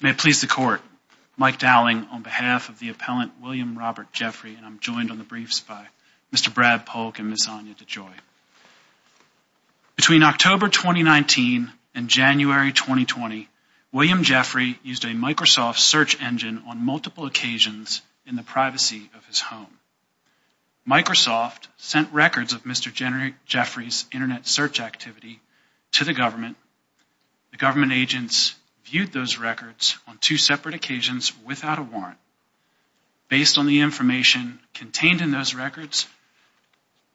May it please the court, Mike Dowling on behalf of the appellant William Robert Jeffery and I'm joined on the briefs by Mr. Brad Polk and Ms. Anya DeJoy. Between October 2019 and January 2020, William Jeffery used a Microsoft search engine on multiple occasions in the privacy of his home. Microsoft sent records of Mr. Jeffery's internet search activity to the government. The government agents viewed those records on two separate occasions without a warrant. Based on the information contained in those records,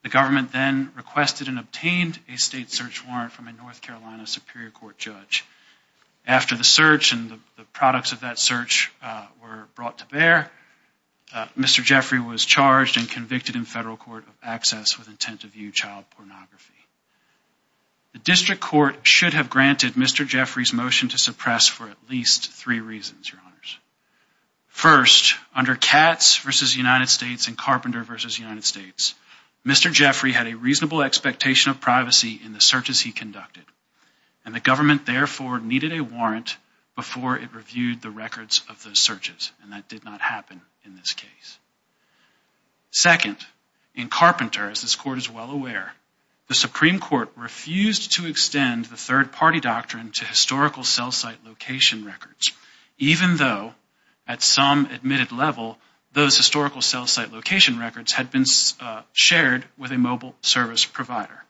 the government then requested and obtained a state search warrant from a North Carolina Superior Court judge. After the search and the products of that search were brought to bear, Mr. Jeffery was charged and convicted in federal court of access with intent to view child pornography. The district court should have granted Mr. Jeffery's motion to suppress for at least three reasons, your honors. First, under Katz v. United States and Carpenter v. United States, Mr. Jeffery had a reasonable expectation of privacy in the searches he conducted and the government therefore needed a warrant before it reviewed the records of those searches and that did not happen in this case. Second, in Carpenter, as this court is well aware, the Supreme Court refused to extend the third party doctrine to historical cell site location records, even though at some admitted level those historical cell site location records had been shared with a mobile service provider.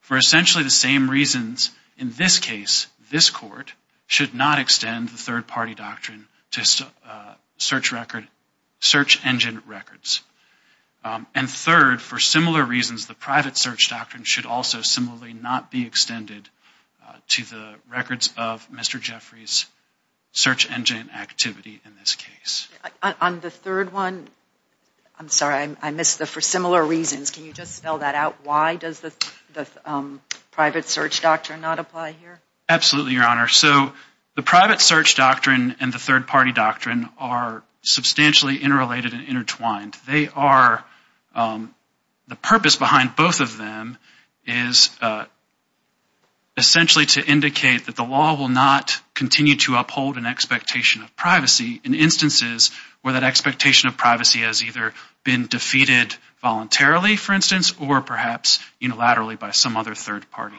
For essentially the same reasons, in this case, this court should not extend the third party doctrine to search engine records. And third, for similar reasons, the private search doctrine should also similarly not be extended to the records of Mr. Jeffery's search engine activity in this case. On the third one, I'm sorry, I missed the for similar reasons. Can you just spell that out? Why does the the private search doctrine not apply here? Absolutely, your honor. So the private search doctrine and the third party doctrine are substantially interrelated and intertwined. They are, the purpose behind both of them is essentially to indicate that the law will not continue to uphold an expectation of privacy in instances where that expectation of privacy has either been defeated voluntarily, for instance, or perhaps unilaterally by some other third party.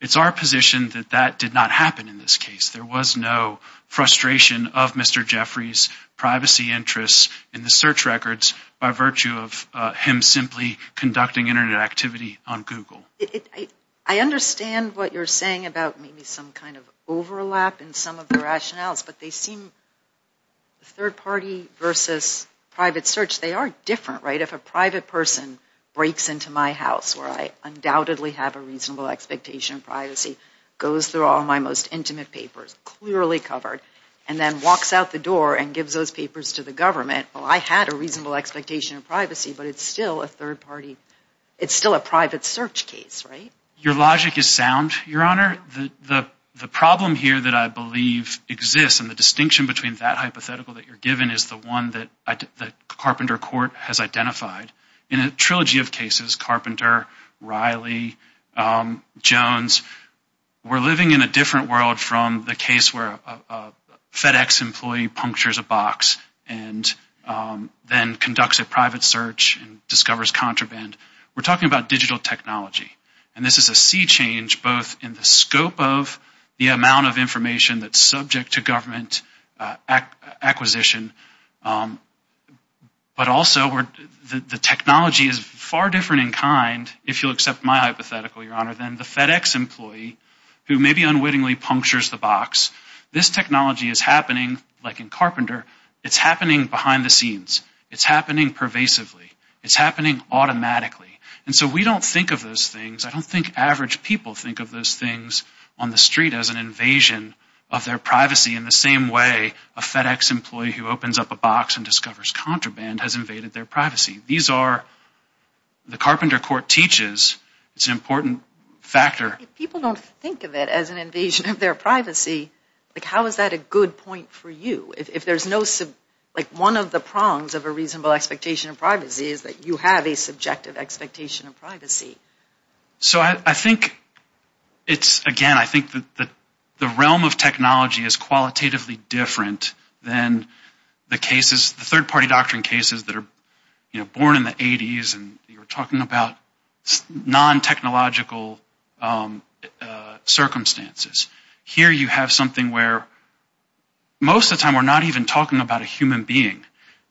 It's our position that that did not happen in this case. There was no frustration of Mr. Jeffery's privacy interests in the search records by virtue of him simply conducting Internet activity on Google. I understand what you're saying about maybe some kind of overlap in some of the rationales, but they seem, third party versus private search, they are different, right? If a private person breaks into my house where I undoubtedly have a reasonable expectation of privacy, goes through all my most intimate papers, clearly covered, and then walks out the door and gives those papers to the government, well, I had a reasonable expectation of privacy, but it's still a third party, it's still a private search case, right? Your logic is sound, your honor. The problem here that I believe exists and the distinction between that hypothetical that you're given is the one that Carpenter Court has identified. In a trilogy of cases, Carpenter, Riley, Jones, we're living in a different world from the case where a FedEx employee punctures a box and then conducts a private search and discovers contraband. We're talking about digital technology, and this is a sea change both in the scope of the amount of information that's subject to government acquisition, but also where the technology is far different in kind, if you'll accept my hypothetical, your honor, than the FedEx employee who maybe unwittingly punctures the box. This technology is happening, like in Carpenter, it's happening behind the scenes, it's happening pervasively, it's happening automatically, and so we don't think of those things, I don't think average people think of those things on the street as an invasion of their privacy in the same way a FedEx employee who opens up a box and discovers contraband has invaded their privacy. These are, the Carpenter Court teaches, it's an important factor. If people don't think of it as an invasion of their privacy, like how is that a good point for you? If there's no, like one of the prongs of a reasonable expectation of privacy is that you have a subjective expectation of privacy. So I think it's, again, I think that the realm of technology is qualitatively different than the cases, the third-party doctrine cases, that are, you know, born in the 80s and you're talking about non-technological circumstances. Here you have something where most of the time we're not even talking about a human being.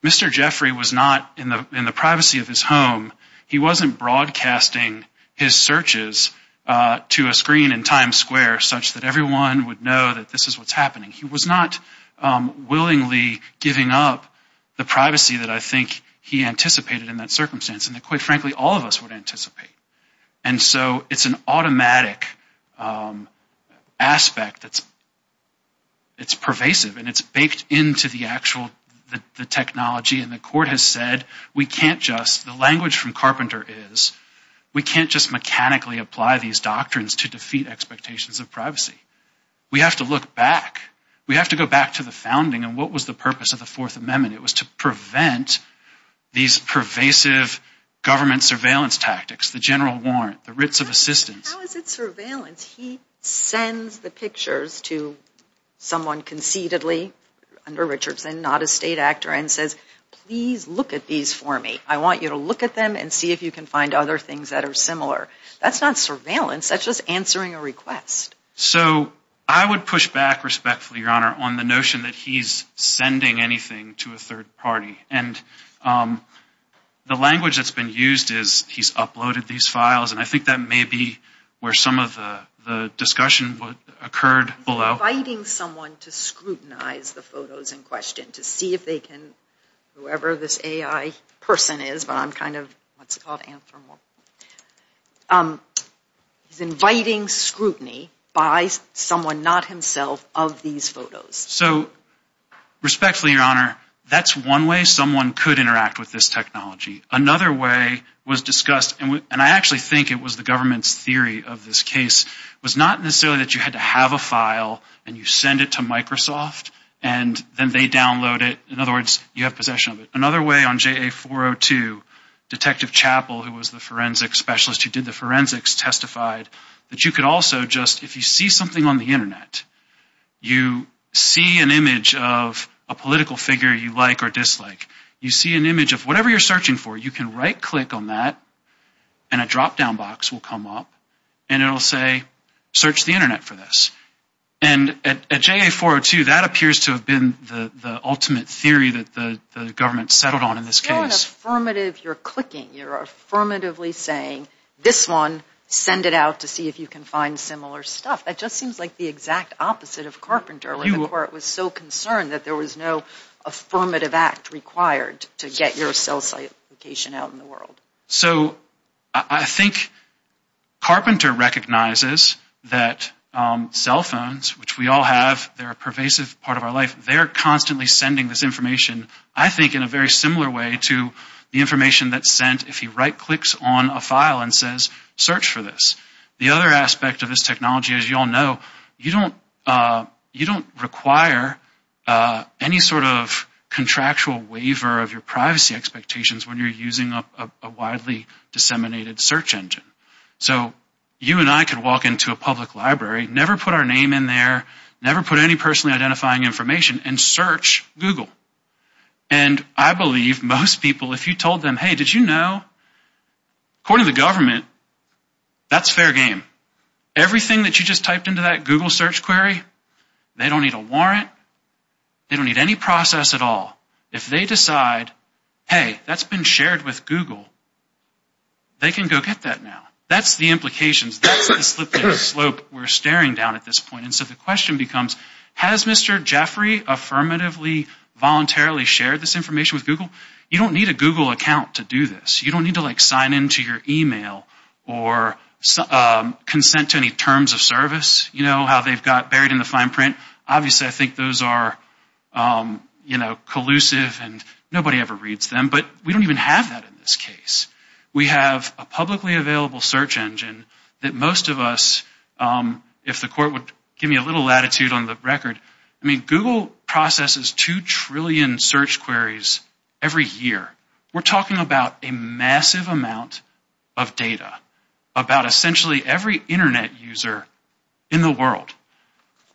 Mr. Jeffrey was not in the privacy of his home, he wasn't broadcasting his searches to a screen in Times Square such that everyone would know that this is what's happening. He was not willingly giving up the privacy that I think he anticipated in that circumstance and that quite frankly all of us would anticipate. And so it's an automatic aspect that's, it's pervasive and it's baked into the actual, the technology and the court has said we can't just, the language from Carpenter is, we can't just mechanically apply these doctrines to defeat expectations of privacy. We have to look back, we have to go back to the founding and what was the purpose of the Fourth Amendment? It was to prevent these pervasive government surveillance tactics, the general warrant, the writs of assistance. How is it surveillance? He sends the pictures to someone conceitedly under Richardson, not a state actor, and says please look at these for me. I want you to look at them and see if you can find other things that are similar. That's not surveillance, that's just answering a request. So I would push back respectfully, Your Honor, on the notion that he's sending anything to a third party and the language that's been used is he's uploaded these files and I think that may be where some of the discussion occurred below. He's inviting someone to scrutinize the photos in question to see if they can, whoever this AI person is, but I'm kind of, what's it called, anthropomorphic. He's inviting scrutiny by someone, not himself, of these photos. So respectfully, Your Honor, that's one way someone could interact with this technology. Another way was discussed, and I actually think it was the government's theory of this case, was not necessarily that you had to have a file and you send it to Microsoft and then they download it. In other words, you have possession of it. Another way on JA402, Detective Chappell, who was the forensic specialist who did the forensics, testified that you could also just, if you see something on the internet, you see an image of a political figure you like or dislike. You see an image of whatever you're searching for, you can right-click on that and a drop-down box will come up and it'll say, search the internet for this. And at JA402, that appears to have been the ultimate theory that the government settled on in this case. It's not an affirmative, you're clicking, you're affirmatively saying, this one, send it out to see if you can find similar stuff. That just seems like the exact opposite of Carpenter, where it was so concerned that there was no affirmative act required to get your cell site location out in the world. So, I think Carpenter recognizes that cell phones, which we all have, they're a pervasive part of our life, they're constantly sending this information, I think, in a very similar way to the information that's sent if he right-clicks on a file and says, search for this. The other aspect of this technology, as you all know, you don't require any sort of contractual waiver of your privacy expectations when you're using a widely disseminated search engine. So, you and I could walk into a public library, never put our name in there, never put any personally identifying information and search Google. And I believe most people, if you told them, hey, did you know, according to the government, that's fair game. Everything that you just typed into that Google search query, they don't need a warrant, they don't need any process at all. If they decide, hey, that's been shared with Google, they can go get that now. That's the implications, that's the slipping slope we're staring down at this point. And so, the question becomes, has Mr. Jeffrey affirmatively, voluntarily shared this information with Google? You don't need a Google know how they've got buried in the fine print? Obviously, I think those are, you know, collusive and nobody ever reads them, but we don't even have that in this case. We have a publicly available search engine that most of us, if the court would give me a little latitude on the record, I mean, Google processes two trillion search queries every year. We're talking about a massive amount of data, about essentially every internet user in the world.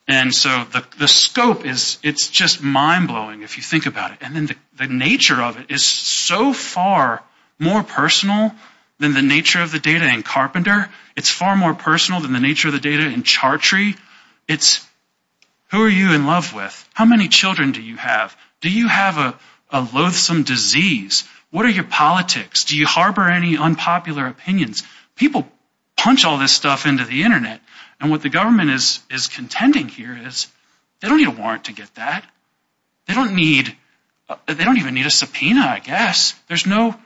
And so, the scope is, it's just mind-blowing if you think about it. And then the nature of it is so far more personal than the nature of the data in Carpenter. It's far more personal than the nature of the data in Chartree. It's, who are you in love with? How many children do you have? Do you have a loathsome disease? What are your politics? Do you harbor any unpopular opinions? People punch all this stuff into the internet. And what the government is contending here is, they don't need a warrant to get that. They don't need, they don't even need a subpoena, I guess. There's no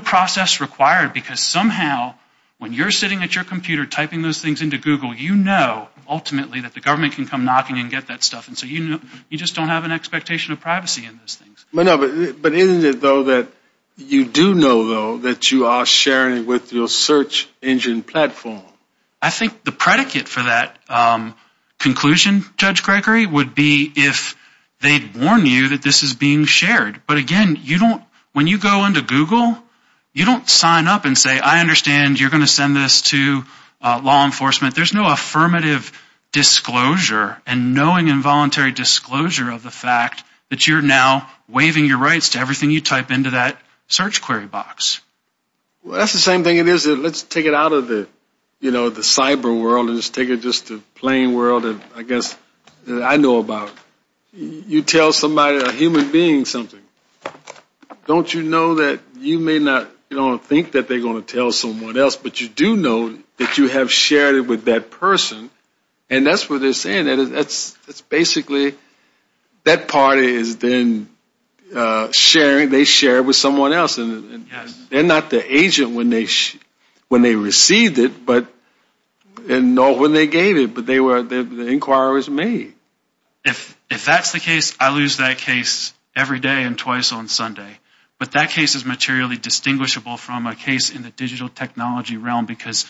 process required because somehow, when you're sitting at your computer typing those things into Google, you know ultimately that the government can come knocking and get that stuff. And so, you know, you just don't have an expectation of privacy in those things. But isn't it though that you do know though that you are sharing with your search engine platform? I think the predicate for that conclusion, Judge Gregory, would be if they'd warn you that this is being shared. But again, you don't, when you go into Google, you don't sign up and say, I understand you're going to send this to law enforcement. There's no affirmative disclosure and knowing involuntary disclosure of the fact that you're now waiving your rights to everything you type into that search query box. Well, that's the same thing it is. Let's take it out of the, you know, the cyber world and just take it just to plain world, I guess, that I know about. You tell somebody, a human being something. Don't you know that you may not, you don't think that they're going to tell someone else, but you do know that you have shared it with that person. And that's what they're saying. That's basically, that party is then sharing, they share it with someone else. And they're not the agent when they received it and nor when they gave it, but the inquiry was made. If that's the case, I lose that case every day and twice on Sunday. But that case is materially distinguishable from a case in the digital technology realm because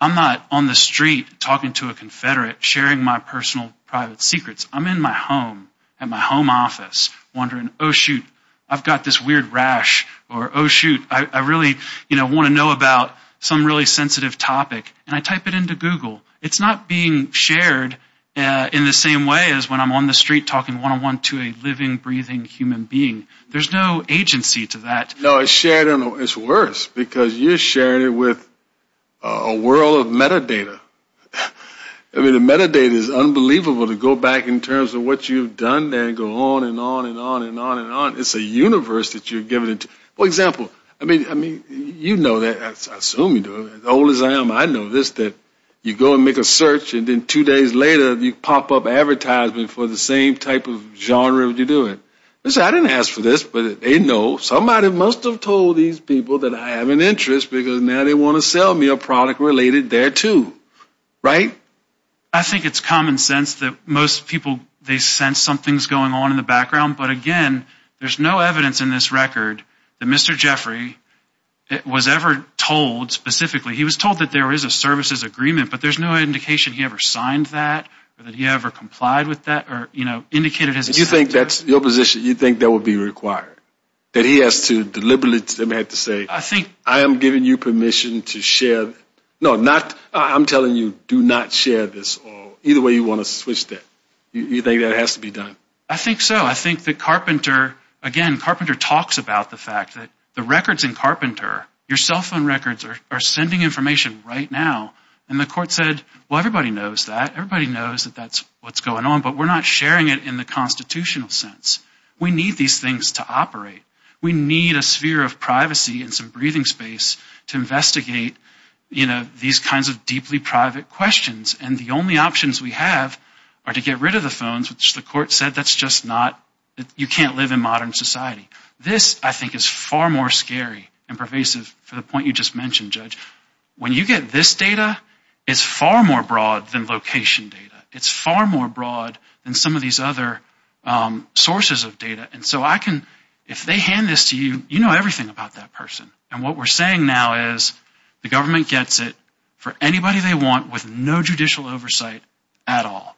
I'm not on the street talking to a confederate sharing my personal private secrets. I'm in my home at my home office wondering, oh shoot, I've got this weird rash or oh shoot, I really, you know, want to know about some really sensitive topic and I type it into Google. It's not being shared in the same way as when I'm on the street talking one-on-one to a living, breathing human being. There's no agency to that. No, it's shared and it's worse because you're sharing it with a world of metadata. I mean, the metadata is unbelievable to go back in terms of what you've done there and go on and on and on and on and on. It's a universe that you're giving it. For example, I mean, you know that, I assume you do, as old as I am, I know this, that you go and make a search and then two days later you pop up advertisement for the same type of genre that you're doing. I didn't ask for this, but they know. Somebody must have told these people that I have an interest because now they want to sell me a product related there too, right? I think it's common sense that most people, they sense something's going on in the background, but again, there's no evidence in this record that Mr. Jeffrey was ever told specifically. He was told that there is a services agreement, but there's no indication he ever signed that or that he ever complied with that or, you know, indicated his assent. You think that's your position? You think that would be required? That he has to deliberately have to say, I think I am giving you permission to share. No, not, I'm telling you, do not share this or either way you want to switch that. You think that has to be done? I think so. I think that Carpenter, again, Carpenter talks about the fact that the records in Carpenter, your cell phone records are sending information right now, and the court said, well, everybody knows that. Everybody knows that that's what's going on, but we're not sharing it in the constitutional sense. We need these things to operate. We need a sphere of privacy and some breathing space to investigate, you know, these kinds of deeply private questions, and the only options we have are to get rid of the phones, which the court said that's just not, you can't live in modern society. This, I think, is far more scary and pervasive for the point you just mentioned, Judge. When you get this data, it's far more broad than location data. It's far more broad than some of these other sources of data, and so I can, if they hand this to you, you know everything about that person, and what we're saying now is the government gets it for anybody they want with no judicial oversight at all.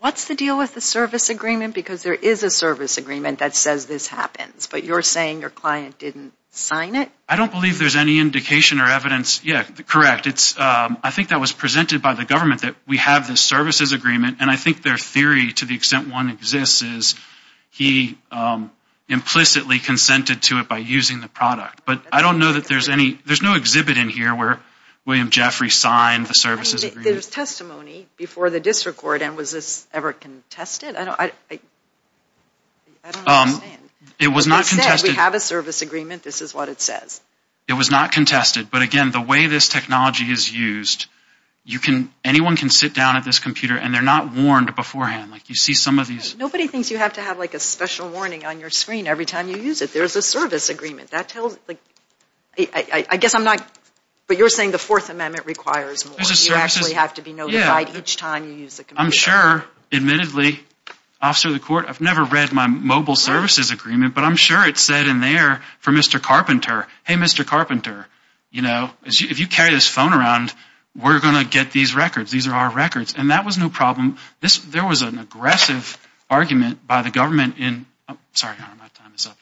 What's the deal with the service agreement? Because there is a service agreement that says this happens, but you're saying your client didn't sign it? I don't believe there's any indication or evidence, yeah, correct. It's, I think that was presented by the government that we have this services agreement, and I think their theory, to the extent one exists, is he implicitly consented to it by using the product, but I don't know that there's any, there's no exhibit in here where William Jeffery signed the services agreement. There's testimony before the district court, and was this ever contested? I don't understand. It was not contested. It said we have a service agreement that nobody has used. You can, anyone can sit down at this computer, and they're not warned beforehand. Like you see some of these. Nobody thinks you have to have like a special warning on your screen every time you use it. There's a service agreement that tells, like, I guess I'm not, but you're saying the fourth amendment requires more. You actually have to be notified each time you use the computer. I'm sure, admittedly, officer of the court, I've never read my mobile services agreement, but I'm sure it said in there for Mr. Carpenter, hey, Mr. Carpenter, you know, if you carry this phone around, we're going to get these records. These are our records, and that was no problem. There was an aggressive argument by the government in, oh, sorry, your honor, my time is up.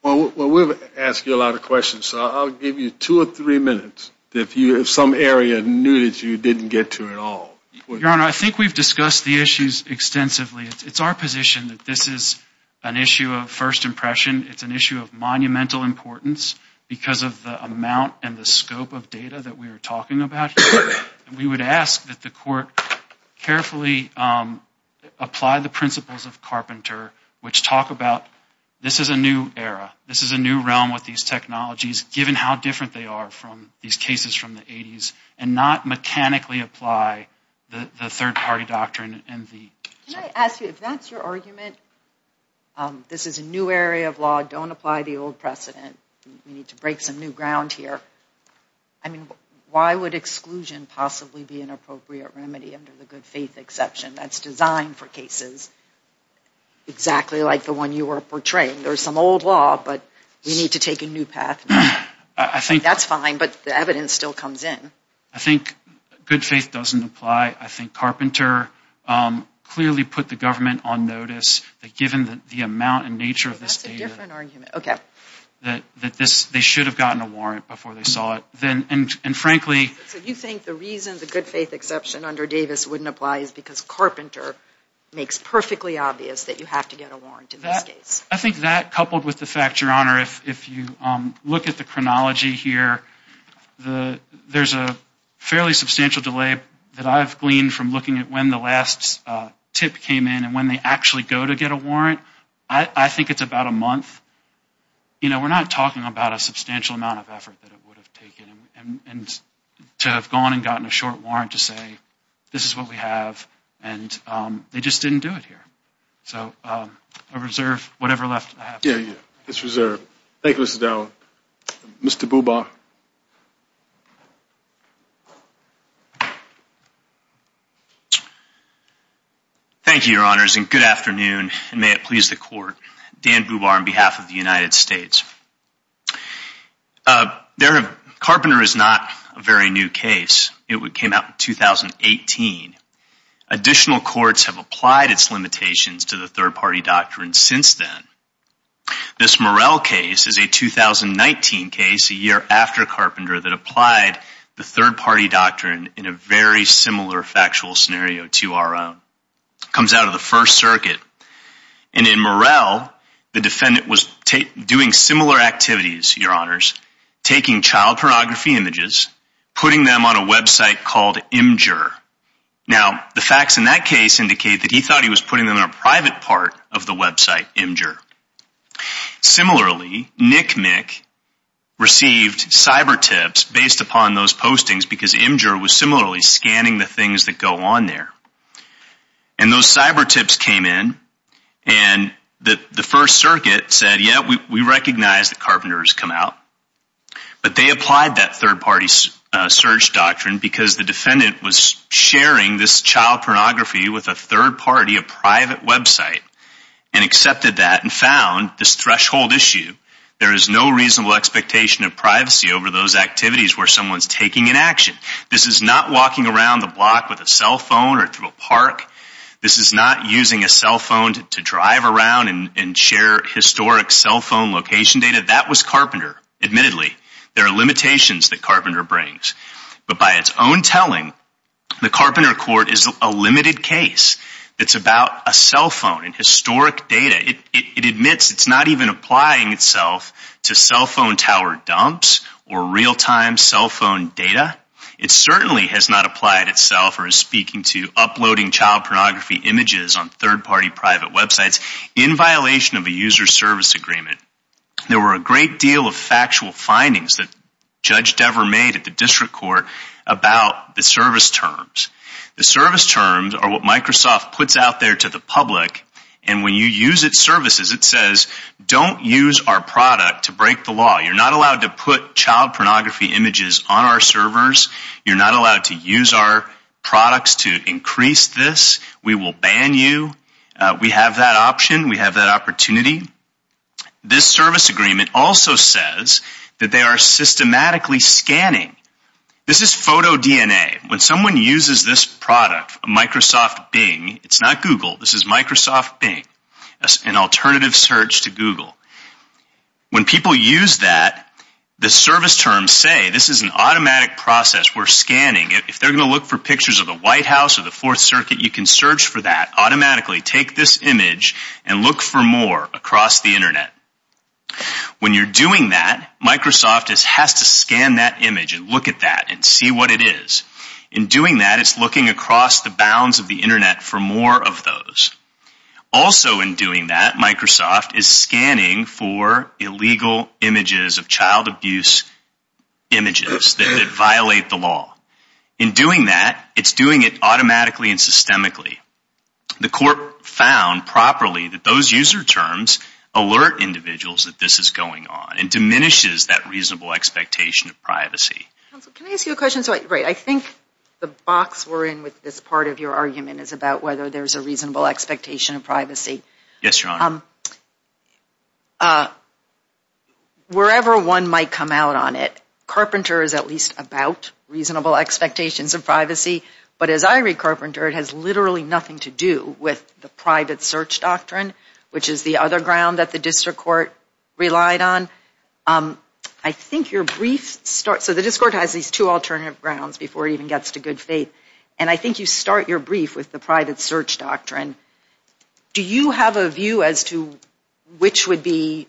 Well, we've asked you a lot of questions, so I'll give you two or three minutes. If you, if some area knew that you didn't get to at all. Your honor, I think we've discussed the issues extensively. It's our position that this is an issue of first impression. It's an issue of monumental importance because of the amount and the scope of data that we are talking about. We would ask that the court carefully apply the principles of Carpenter, which talk about this is a new era. This is a new realm with these technologies, given how different they are from these cases from the 80s, and not mechanically apply the third-party doctrine and the... Can I ask you, if that's your argument, this is a new area of law, don't apply the old precedent. We need to break some new ground here. I mean, why would exclusion possibly be an appropriate remedy under the good faith exception that's designed for cases exactly like the one you were portraying? There's some old law, but we need to take a new path. I think that's fine, but the evidence still comes in. I think good faith doesn't apply. I think Carpenter clearly put the government on notice that given the amount and nature of this data... That's a different argument. Okay. That they should have gotten a warrant before they saw it. Then, and frankly... So you think the reason the good faith exception under Davis wouldn't apply is because Carpenter makes perfectly obvious that you have to get a warrant in this case? I think that coupled with the fact, your honor, if you look at the chronology here, there's a fairly substantial delay that I've gleaned from looking at when the last tip came in and when they actually go to get a warrant. I think it's about a month. You know, we're not talking about a substantial amount of effort that it would have taken and to have gone and gotten a short warrant to say this is what we have and they just didn't do it here. So I reserve whatever left I have. Yeah, yeah. It's reserved. Thank you, Mr. Dowell. Mr. Bubar. Thank you, your honors, and good afternoon and may it please the court. Dan Bubar on behalf of the United States. Carpenter is not a very new case. It came out in 2018. Additional courts have applied its limitations to the third party doctrine since then. This Murrell case is a 2019 case a year after Carpenter that applied the third party doctrine in a very similar factual scenario to our own. Comes out of the first circuit and in Murrell, the defendant was doing similar activities, your honors, taking child pornography images, putting them on a website called Imgur. Now the facts in that case indicate that he thought he was putting them in a private part of the website, Imgur. Similarly, Nick Mick received cyber tips based upon those postings because Imgur was similarly scanning the things that go on there. And those cyber tips came in and the first circuit said, yeah, we recognize that Carpenter has come out. But they applied that third party search doctrine because the defendant was sharing this child pornography with a third party, a private website, and accepted that and found this threshold issue. There is no reasonable expectation of privacy over those activities where someone's taking an action. This is not walking around the block with a cell phone or through a park. This is not using a cell phone to drive around and share historic cell phone location data. That was Carpenter, admittedly. There are limitations that Carpenter brings. But by its own telling, the Carpenter court is a limited case. It's about a cell phone and historic data. It admits it's not even applying itself to cell phone tower dumps or real time cell phone data. It certainly has not applied itself or is speaking to uploading child pornography images on third party, private websites in violation of a user service agreement. There were a great deal of factual findings that Judge Dever made at the district court about the service terms. The service terms are what Microsoft puts out there to the public. And when you use its services, it says, don't use our product to break the law. You're not allowed to put child pornography images on our You're not allowed to use our products to increase this. We will ban you. We have that option. We have that opportunity. This service agreement also says that they are systematically scanning. This is photo DNA. When someone uses this product, Microsoft Bing, it's not Google. This is Microsoft Bing, an alternative search to Google. When people use that, the service terms say this is an automatic process. We're scanning. If they're going to look for pictures of the White House or the Fourth Circuit, you can search for that automatically. Take this image and look for more across the Internet. When you're doing that, Microsoft has to scan that image and look at that and see what it is. In doing that, it's looking across the bounds of the Internet for more of those. Also in doing that, Microsoft is scanning for illegal images of child abuse images that violate the law. In doing that, it's doing it automatically and systemically. The court found properly that those user terms alert individuals that this is going on and diminishes that reasonable expectation of privacy. Can I ask you a question? I think the box we're in with this part of your argument is about whether there's a reasonable expectation of privacy. Wherever one might come out on it, Carpenter is at least about reasonable expectations of privacy. As I read Carpenter, it has literally nothing to do with the private search doctrine, which is the other ground that the district court relied on. The district court has these two alternative grounds before it even gets to good faith. I think you start your brief with the private search doctrine. Do you have a view as to which would be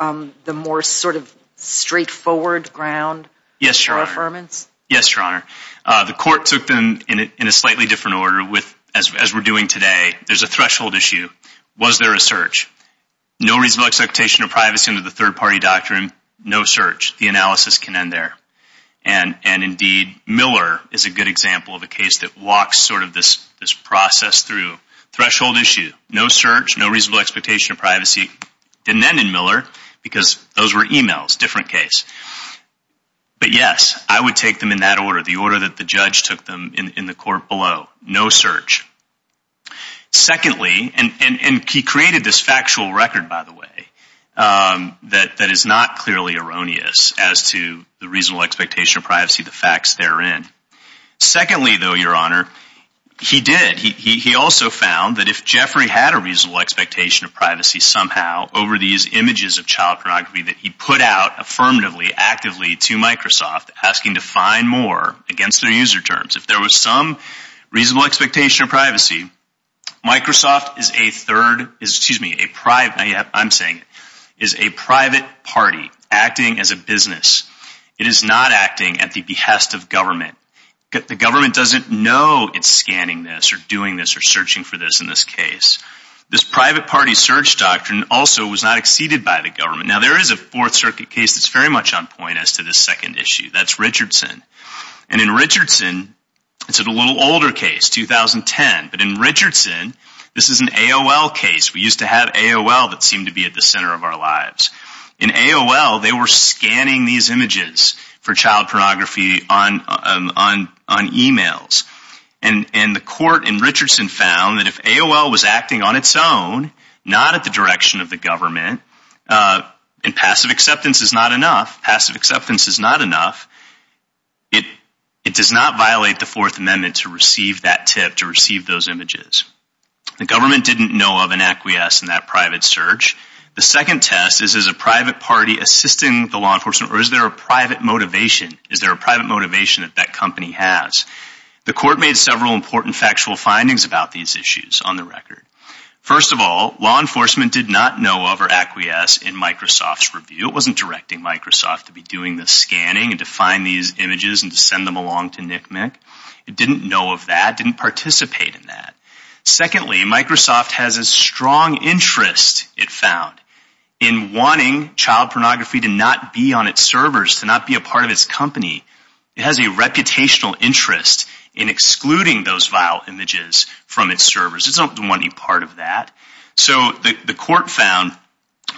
the more sort of straightforward ground for affirmance? Yes, Your Honor. The court took them in a slightly different order as we're doing today. There's a threshold issue. Was there a reasonable expectation of privacy under the third party doctrine? No search. The analysis can end there. And indeed, Miller is a good example of a case that walks sort of this process through. Threshold issue. No search. No reasonable expectation of privacy. Didn't end in Miller because those were emails. Different case. But yes, I would take them in that order. The order that the judge took them in the court below. No search. Secondly, and he created this factual record, by the way, that is not clearly erroneous as to the reasonable expectation of privacy, the facts therein. Secondly, though, Your Honor, he did. He also found that if Jeffrey had a reasonable expectation of privacy somehow over these images of child pornography that he put out affirmatively, actively to Microsoft, asking to find more against their user terms. If there was some reasonable expectation of privacy, Microsoft is a third, excuse me, I'm saying, is a private party acting as a business. It is not acting at the behest of government. The government doesn't know it's scanning this or doing this or searching for this in this case. This private party search doctrine also was not exceeded by the government. Now there is a Fourth Circuit case that's very much on point as to this second issue. That's Richardson. And in Richardson, it's a little older case, 2010. But in Richardson, this is an AOL case. We used to have AOL that seemed to be at the center of our lives. In AOL, they were scanning these images for child pornography on emails. And the court in Richardson found that if AOL was acting on its own, not at the direction of government, and passive acceptance is not enough, passive acceptance is not enough, it does not violate the Fourth Amendment to receive that tip, to receive those images. The government didn't know of an acquiesce in that private search. The second test is, is a private party assisting the law enforcement or is there a private motivation? Is there a private motivation that that company has? The court made several important factual findings about these issues on the record. First of all, law enforcement did not know of or acquiesce in Microsoft's review. It wasn't directing Microsoft to be doing the scanning and to find these images and to send them along to NCMEC. It didn't know of that, didn't participate in that. Secondly, Microsoft has a strong interest, it found, in wanting child pornography to not be on its servers, to not be a part of its company. It has a reputational interest in excluding those vile images from its servers. It doesn't want any part of that. So the court found,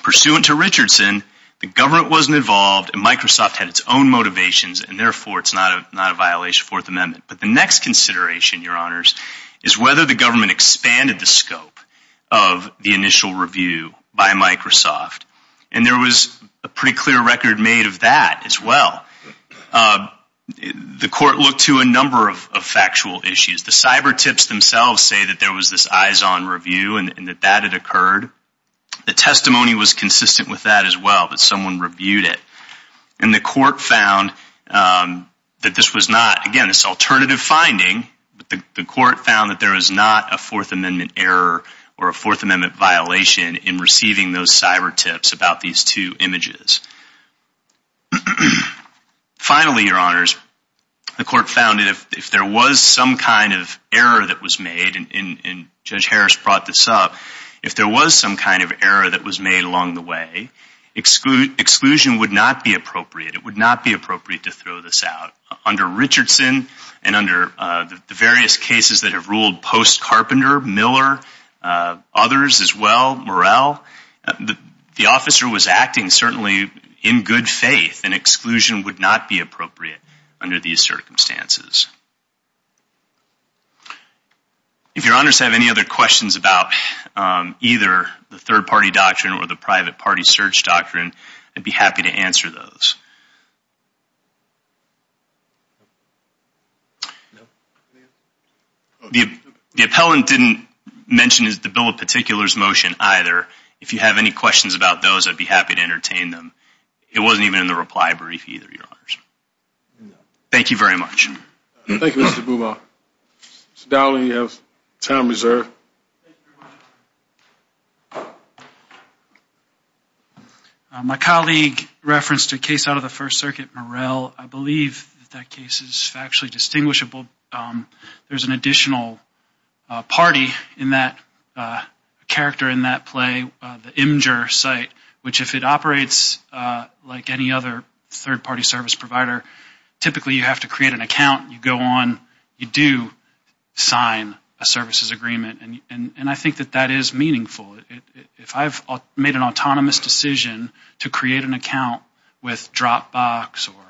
pursuant to Richardson, the government wasn't involved and Microsoft had its own motivations and therefore it's not a violation of the Fourth Amendment. But the next consideration, your honors, is whether the government expanded the scope of the initial review by Microsoft. And there was a pretty clear record made of that as well. The court looked to a number of factual issues. The cyber tips themselves say that there was this eyes-on review and that that had occurred. The testimony was consistent with that as well, that someone reviewed it. And the court found that this was not, again, this alternative finding, but the court found that there is not a Fourth Amendment error or a Fourth Amendment violation in receiving those cyber tips about these two images. Finally, your honors, the court found that if there was some kind of error that was made, and Judge Harris brought this up, if there was some kind of error that was made along the way, exclusion would not be appropriate. It would not be appropriate to throw this out. Under Richardson and under the various cases that have ruled post Carpenter, Miller, others as well, Morrell, the officer was acting certainly in good faith and exclusion would not be appropriate under these circumstances. If your honors have any other questions about either the third-party doctrine or the private The appellant didn't mention the Bill of Particulars motion either. If you have any questions about those, I'd be happy to entertain them. It wasn't even in the reply brief either, your honors. Thank you very much. Thank you, Mr. Buma. Mr. Dowling, you have time reserved. My colleague referenced a case out of the First Circuit, Morrell. I believe that case is factually distinguishable. There's an additional party in that character in that play, the Imgur site, which if it operates like any other third-party service provider, typically you have to create an account. You go on, you do sign a services agreement, and I think that that is meaningful. If I've made an autonomous decision to create an account with Dropbox or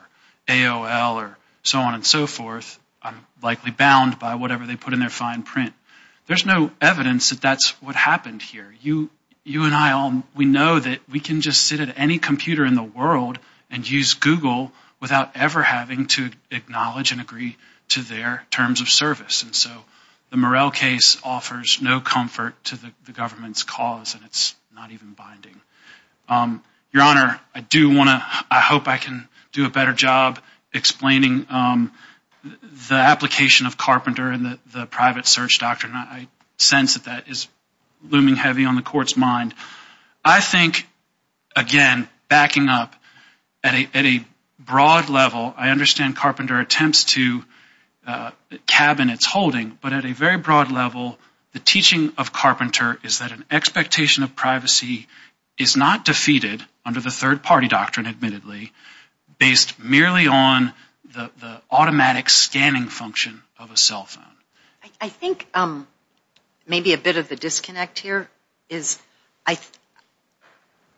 AOL or so on and so forth, I'm likely bound by whatever they put in their fine print. There's no evidence that that's what happened here. You and I, we know that we can just sit at any computer in the world and use Google without ever having to acknowledge and agree to their terms of service, and so the Morrell case offers no comfort to the government's cause, and it's not even binding. Your honor, I do want to, I hope I can do a better job explaining the application of Carpenter and the private search doctrine. I sense that that is looming heavy on the court's mind. I think, again, backing up at a broad level, I understand Carpenter attempts to cabin its holding, but at a very broad level, the teaching of Carpenter is that an expectation of privacy is not defeated under the third-party doctrine, admittedly, based merely on the automatic scanning function of a cell phone. I think maybe a bit of the disconnect here is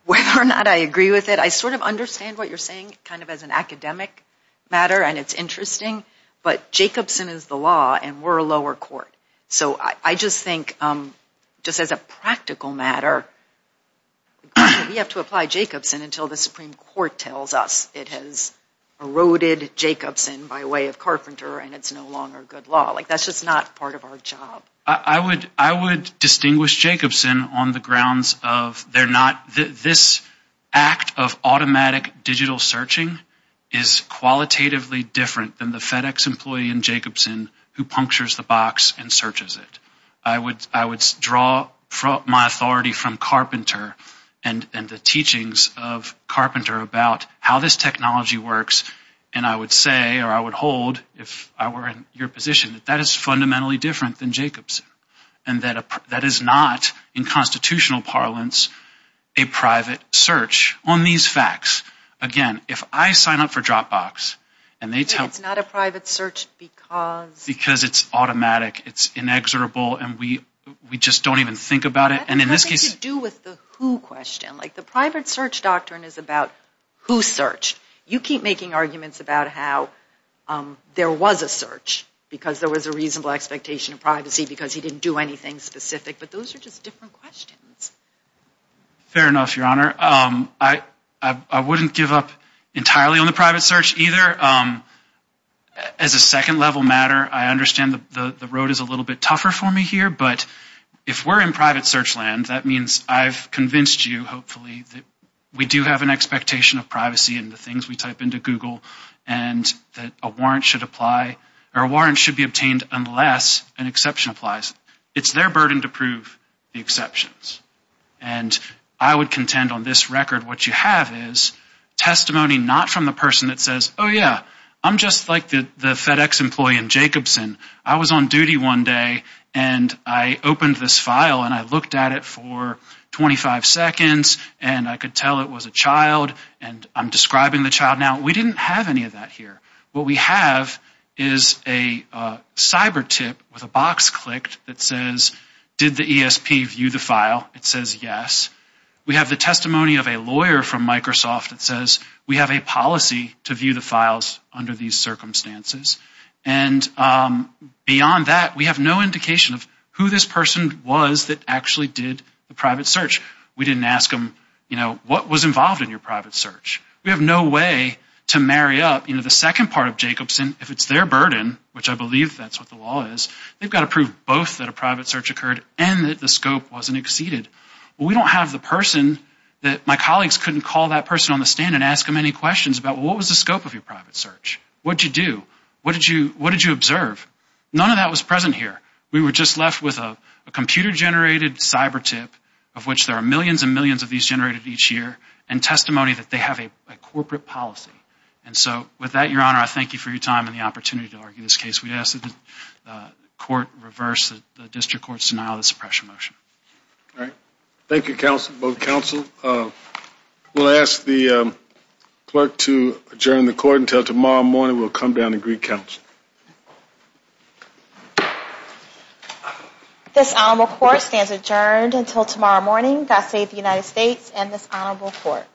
whether or not I agree with it, I sort of understand what you're saying kind of as an academic matter, and it's interesting, but Jacobson is the law, and we're a lower court, so I just think, just as a practical matter, we have to apply Jacobson until the Supreme Court tells us it has eroded Jacobson by way of Carpenter, and it's no longer good law. Like, that's just not part of our job. I would distinguish Jacobson on the grounds of they're not, this act of automatic digital searching is qualitatively different than the FedEx employee in Jacobson who punctures the box and searches it. I would draw my authority from Carpenter and the teachings of Carpenter about how this technology works, and I would say, or I would hold, if I were in your position, that that is fundamentally different than Jacobson, and that is not, in constitutional parlance, a private search on these facts. Again, if I sign up for Dropbox, and they tell... It's not a private search because... Because it's automatic, it's inexorable, and we just don't even think about it, and in this case... That has nothing to do with the who question. Like, the private search doctrine is about who searched. You keep making arguments about how there was a search, because there was a reasonable expectation of privacy, because he didn't do anything specific, but those are just different questions. Fair enough, Your Honor. I wouldn't give up entirely on the private search either. As a second level matter, I understand the road is a little bit tougher for me here, but if we're in private search land, that means I've convinced you, hopefully, that we do have an expectation of privacy and the things we type into Google, and that a warrant should apply, or a warrant should be obtained unless an exception applies. It's their burden to prove the exceptions, and I would contend on this record what you have is testimony not from the person that says, oh yeah, I'm just like the FedEx employee in Jacobson. I was on duty one day, and I opened this file, and I looked at it for 25 seconds, and I could tell it was a child, and I'm describing the child now. We didn't have any of that here. What we have is a cyber tip with a box clicked that says, did the ESP view the file? It says yes. We have the testimony of a lawyer from Microsoft that says we have a policy to view the files under these circumstances, and beyond that, we have no indication of who this person was that actually did the private search. We didn't ask him, you know, what was involved in your private search. We have no way to marry up, you know, the second part of Jacobson, if it's their burden, which I believe that's what the law is, they've got to prove both that a private search occurred and that the scope wasn't exceeded. We don't have the person that my colleagues couldn't call that person on the stand and ask them any questions about what was the scope of your private search? What'd you do? What did you what did you observe? None of that was present here. We were just left with a computer-generated cyber tip, of which there are millions and millions of these generated each year, and testimony that they have a corporate policy. And so with that, your honor, I thank you for your time and the opportunity to argue this case. We ask that the court reverse the district court's denial of the suppression motion. All right, thank you both counsel. We'll ask the clerk to adjourn the court until tomorrow morning. We'll come down and greet counsel. This honorable court stands adjourned until tomorrow morning. God save the United States and this honorable court.